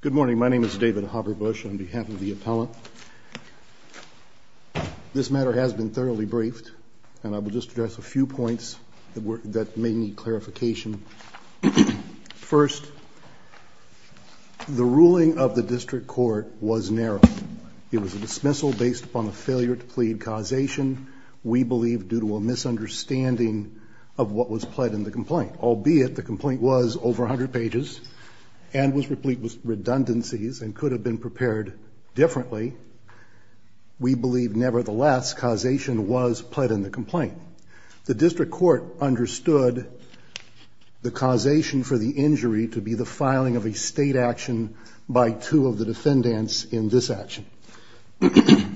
Good morning, my name is David Hopper Bush on behalf of the appellant. This matter has been thoroughly briefed and I will just address a few points that may need clarification. First, the ruling of the district court was narrow. It was a dismissal based upon the failure to plead causation, we believe due to a misunderstanding of what was pled in the complaint, albeit the complaint was over a hundred pages and was replete with redundancies and could have been prepared differently. We believe nevertheless causation was pled in the complaint. The district court understood the causation for the injury to be the filing of a state action by two of the defendants in this action.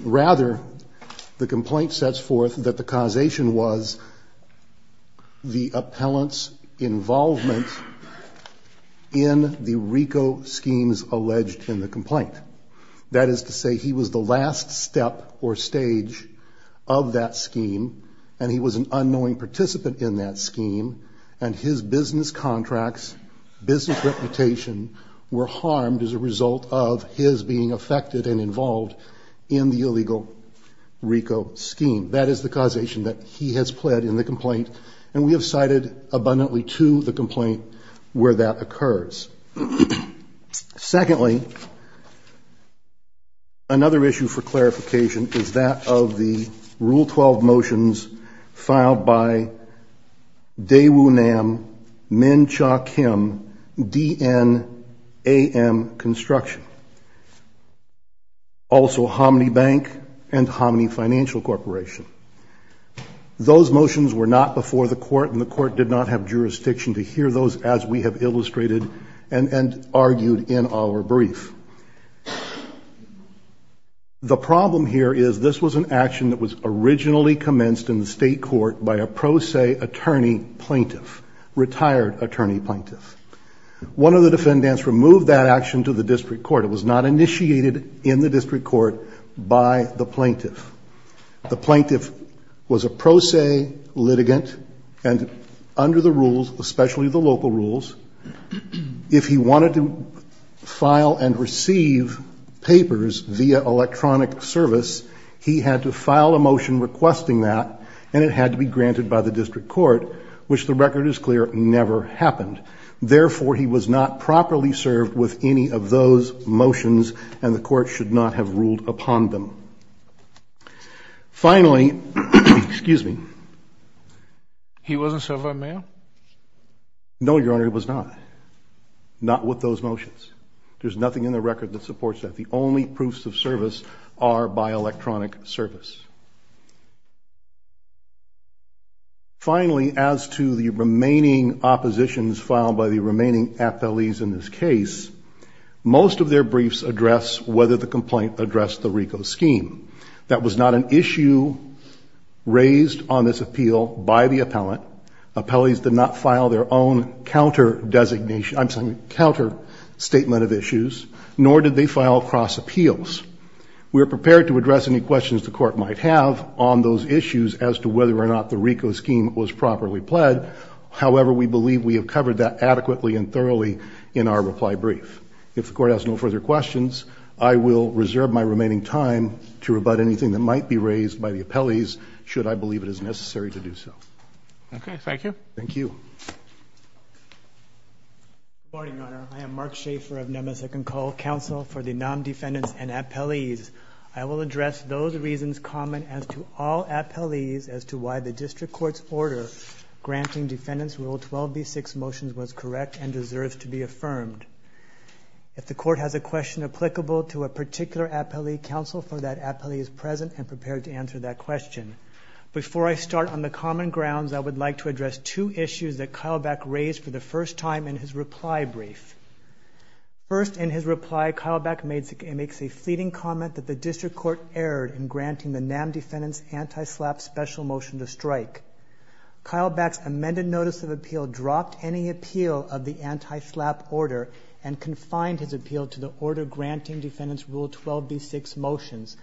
Rather the complaint sets forth that the causation was the appellant's involvement in the RICO schemes alleged in the complaint. That is to say he was the last step or stage of that scheme and he was an unknowing participant in that scheme and his business contracts, business reputation were harmed as a result of his being affected and involved in the illegal RICO scheme. That is the causation that he has pled in the complaint and we have cited abundantly to the complaint where that occurs. Secondly, another issue for clarification is that of the rule 12 motions filed by Dewu Nam, Min Cha Kim, DNAM Construction, also Hominy Bank and Hominy Financial Corporation. Those motions were not before the court and the court did not have jurisdiction to hear those as we have illustrated and argued in our brief. The problem here is this was an action that was originally commenced in the state court by a pro se attorney plaintiff, retired attorney plaintiff. One of the defendants removed that action to the district court. It was not initiated in the district court by the plaintiff. The plaintiff was a pro se litigant and under the rules, especially the local rules, if he wanted to file and receive papers via electronic service, he had to file a motion requesting that and it had to be granted by the district court, which the record is clear, never happened. Therefore he was not properly served with any of those motions and the court should not have ruled upon them. Finally, excuse me. He wasn't served by mail? No, Your Honor, it was not. Not with those motions. There's nothing in the record that supports that. The only proofs of service are by electronic service. Finally, as to the remaining oppositions filed by the remaining appellees in this case, most of their briefs address whether the complaint addressed the RICO scheme. That was not an issue raised on this appeal by the appellate. Appellees did not file their own counter designation, I'm sorry, counter statement of issues nor did they file cross appeals. We are prepared to address any questions the court might have. On those issues as to whether or not the RICO scheme was properly pled. However, we believe we have covered that adequately and thoroughly in our reply brief. If the court has no further questions, I will reserve my remaining time to rebut anything that might be raised by the appellees should I believe it is necessary to do so. Okay, thank you. Thank you. Morning, Your Honor. I am Mark Schaefer of Nemeth Second Call Council for the non-defendants and I have a question as to all appellees as to why the district court's order granting defendants rule 12 B six motions was correct and deserves to be affirmed. If the court has a question applicable to a particular appellee counsel for that appellee is present and prepared to answer that question. Before I start on the common grounds, I would like to address two issues that Kyle Beck raised for the first time in his reply brief. First in his reply, Kyle Beck makes a fleeting comment that the district court erred in granting the NAM defendants anti-slap special motion to strike. Kyle Beck's amended notice of appeal dropped any appeal of the anti-slap order and confined his appeal to the order granting defendants rule 12 B six motions.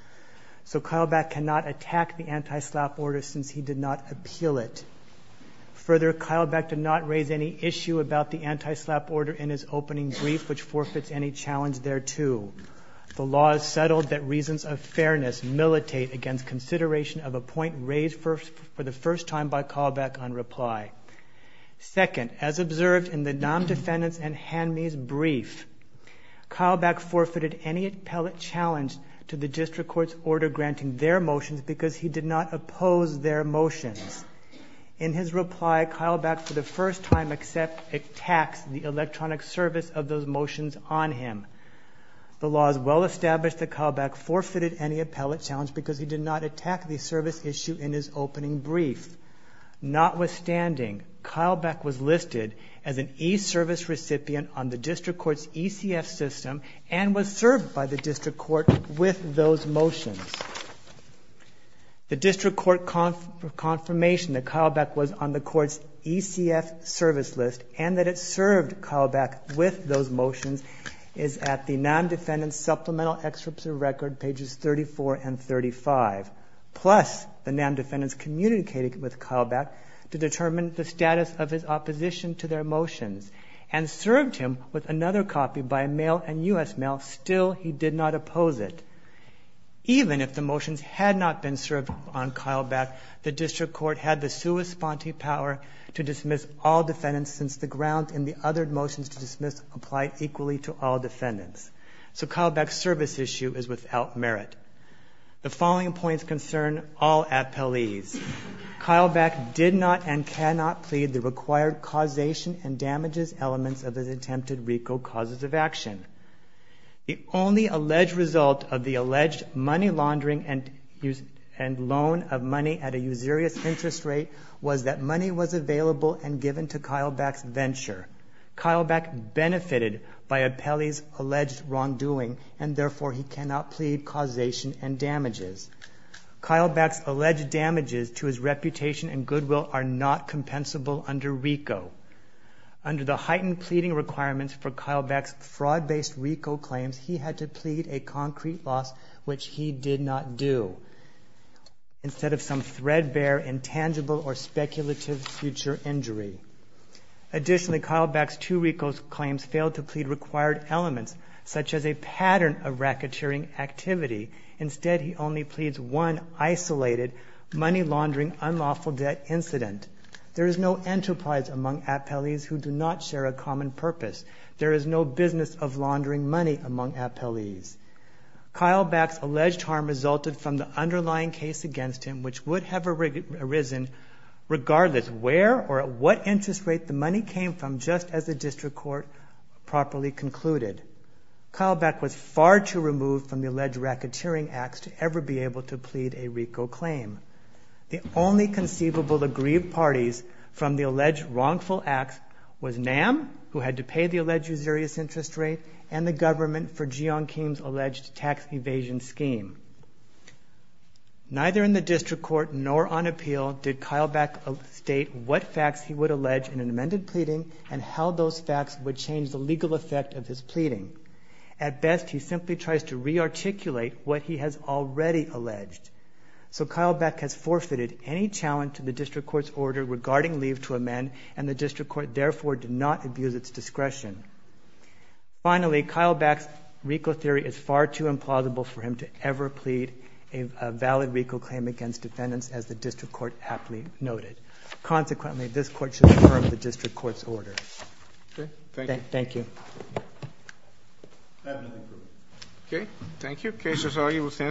So Kyle Beck cannot attack the anti-slap order since he did not appeal it. Further, Kyle Beck did not raise any issue about the anti-slap order in his opening brief, which forfeits any challenge thereto. The law is settled that reasons of fairness militate against consideration of a point raised for the first time by Kyle Beck on reply. Second, as observed in the NAM defendants and Hanmi's brief, Kyle Beck forfeited any appellate challenge to the district court's order granting their motions because he did not oppose their motions. In his reply, Kyle Beck for the first time except attacks the electronic service of those motions on him. The law is well established that Kyle Beck forfeited any appellate challenge because he did not attack the service issue in his opening brief. Notwithstanding, Kyle Beck was listed as an E service recipient on the district court's ECF system and was served by the district court with those motions. The district court con for confirmation that Kyle Beck was on the court's ECF service list and that it served Kyle Beck with those motions is at the NAM defendants supplemental excerpts of record pages 34 and 35. Plus the NAM defendants communicated with Kyle Beck to determine the status of his opposition to their motions and served him with another copy by mail and US mail. Still, he did not oppose it even if the motions had not been served on Kyle Beck. The district court had the sui sponte power to dismiss all defendants since the ground in the other motions to dismiss apply equally to all defendants. So Kyle Beck service issue is without merit. The following points concern all appellees. Kyle Beck did not and cannot plead the required causation and damages elements of his attempted RICO causes of action. The only alleged result of the alleged money laundering and use and loan of money at a usurious interest rate was that money was available and given to Kyle Beck's venture. Kyle Beck benefited by appellees alleged wrongdoing and therefore he cannot plead causation and damages. Kyle Beck's alleged damages to his reputation and goodwill are not compensable under RICO under the heightened pleading requirements for Kyle Beck's fraud based RICO claims. He had to plead a concrete loss, which he did not do instead of some threadbare intangible or speculative future injury. Additionally, Kyle Beck's two RICO claims failed to plead required elements such as a pattern of racketeering activity. Instead, he only pleads one isolated money laundering unlawful debt incident. There is no enterprise among appellees who do not share a common purpose. There is no business of laundering money among appellees. Kyle Beck's alleged harm resulted from the underlying case against him, which would have arisen regardless of where or what interest rate the money came from. Just as the district court properly concluded, Kyle Beck was far too removed from the alleged racketeering acts to ever be able to plead a RICO claim. The only conceivable aggrieved parties from the alleged wrongful acts was NAM who had to pay the alleged usurious interest rate and the government for Jeon Kim's alleged tax evasion scheme. Neither in the district court nor on appeal did Kyle Beck state what facts he would allege in an amended pleading and how those facts would change the legal effect of his pleading. At best, he simply tries to rearticulate what he has already alleged. So Kyle Beck has forfeited any challenge to the district court's order regarding leave to amend and the district court therefore did not abuse its discretion. Finally, Kyle Beck's RICO theory is far too implausible for him to ever be able to plead a valid RICO claim against defendants as the district court aptly noted. Consequently, this court should affirm the district court's order. Okay. Thank you. Okay. Thank you. Cases are, you will stand.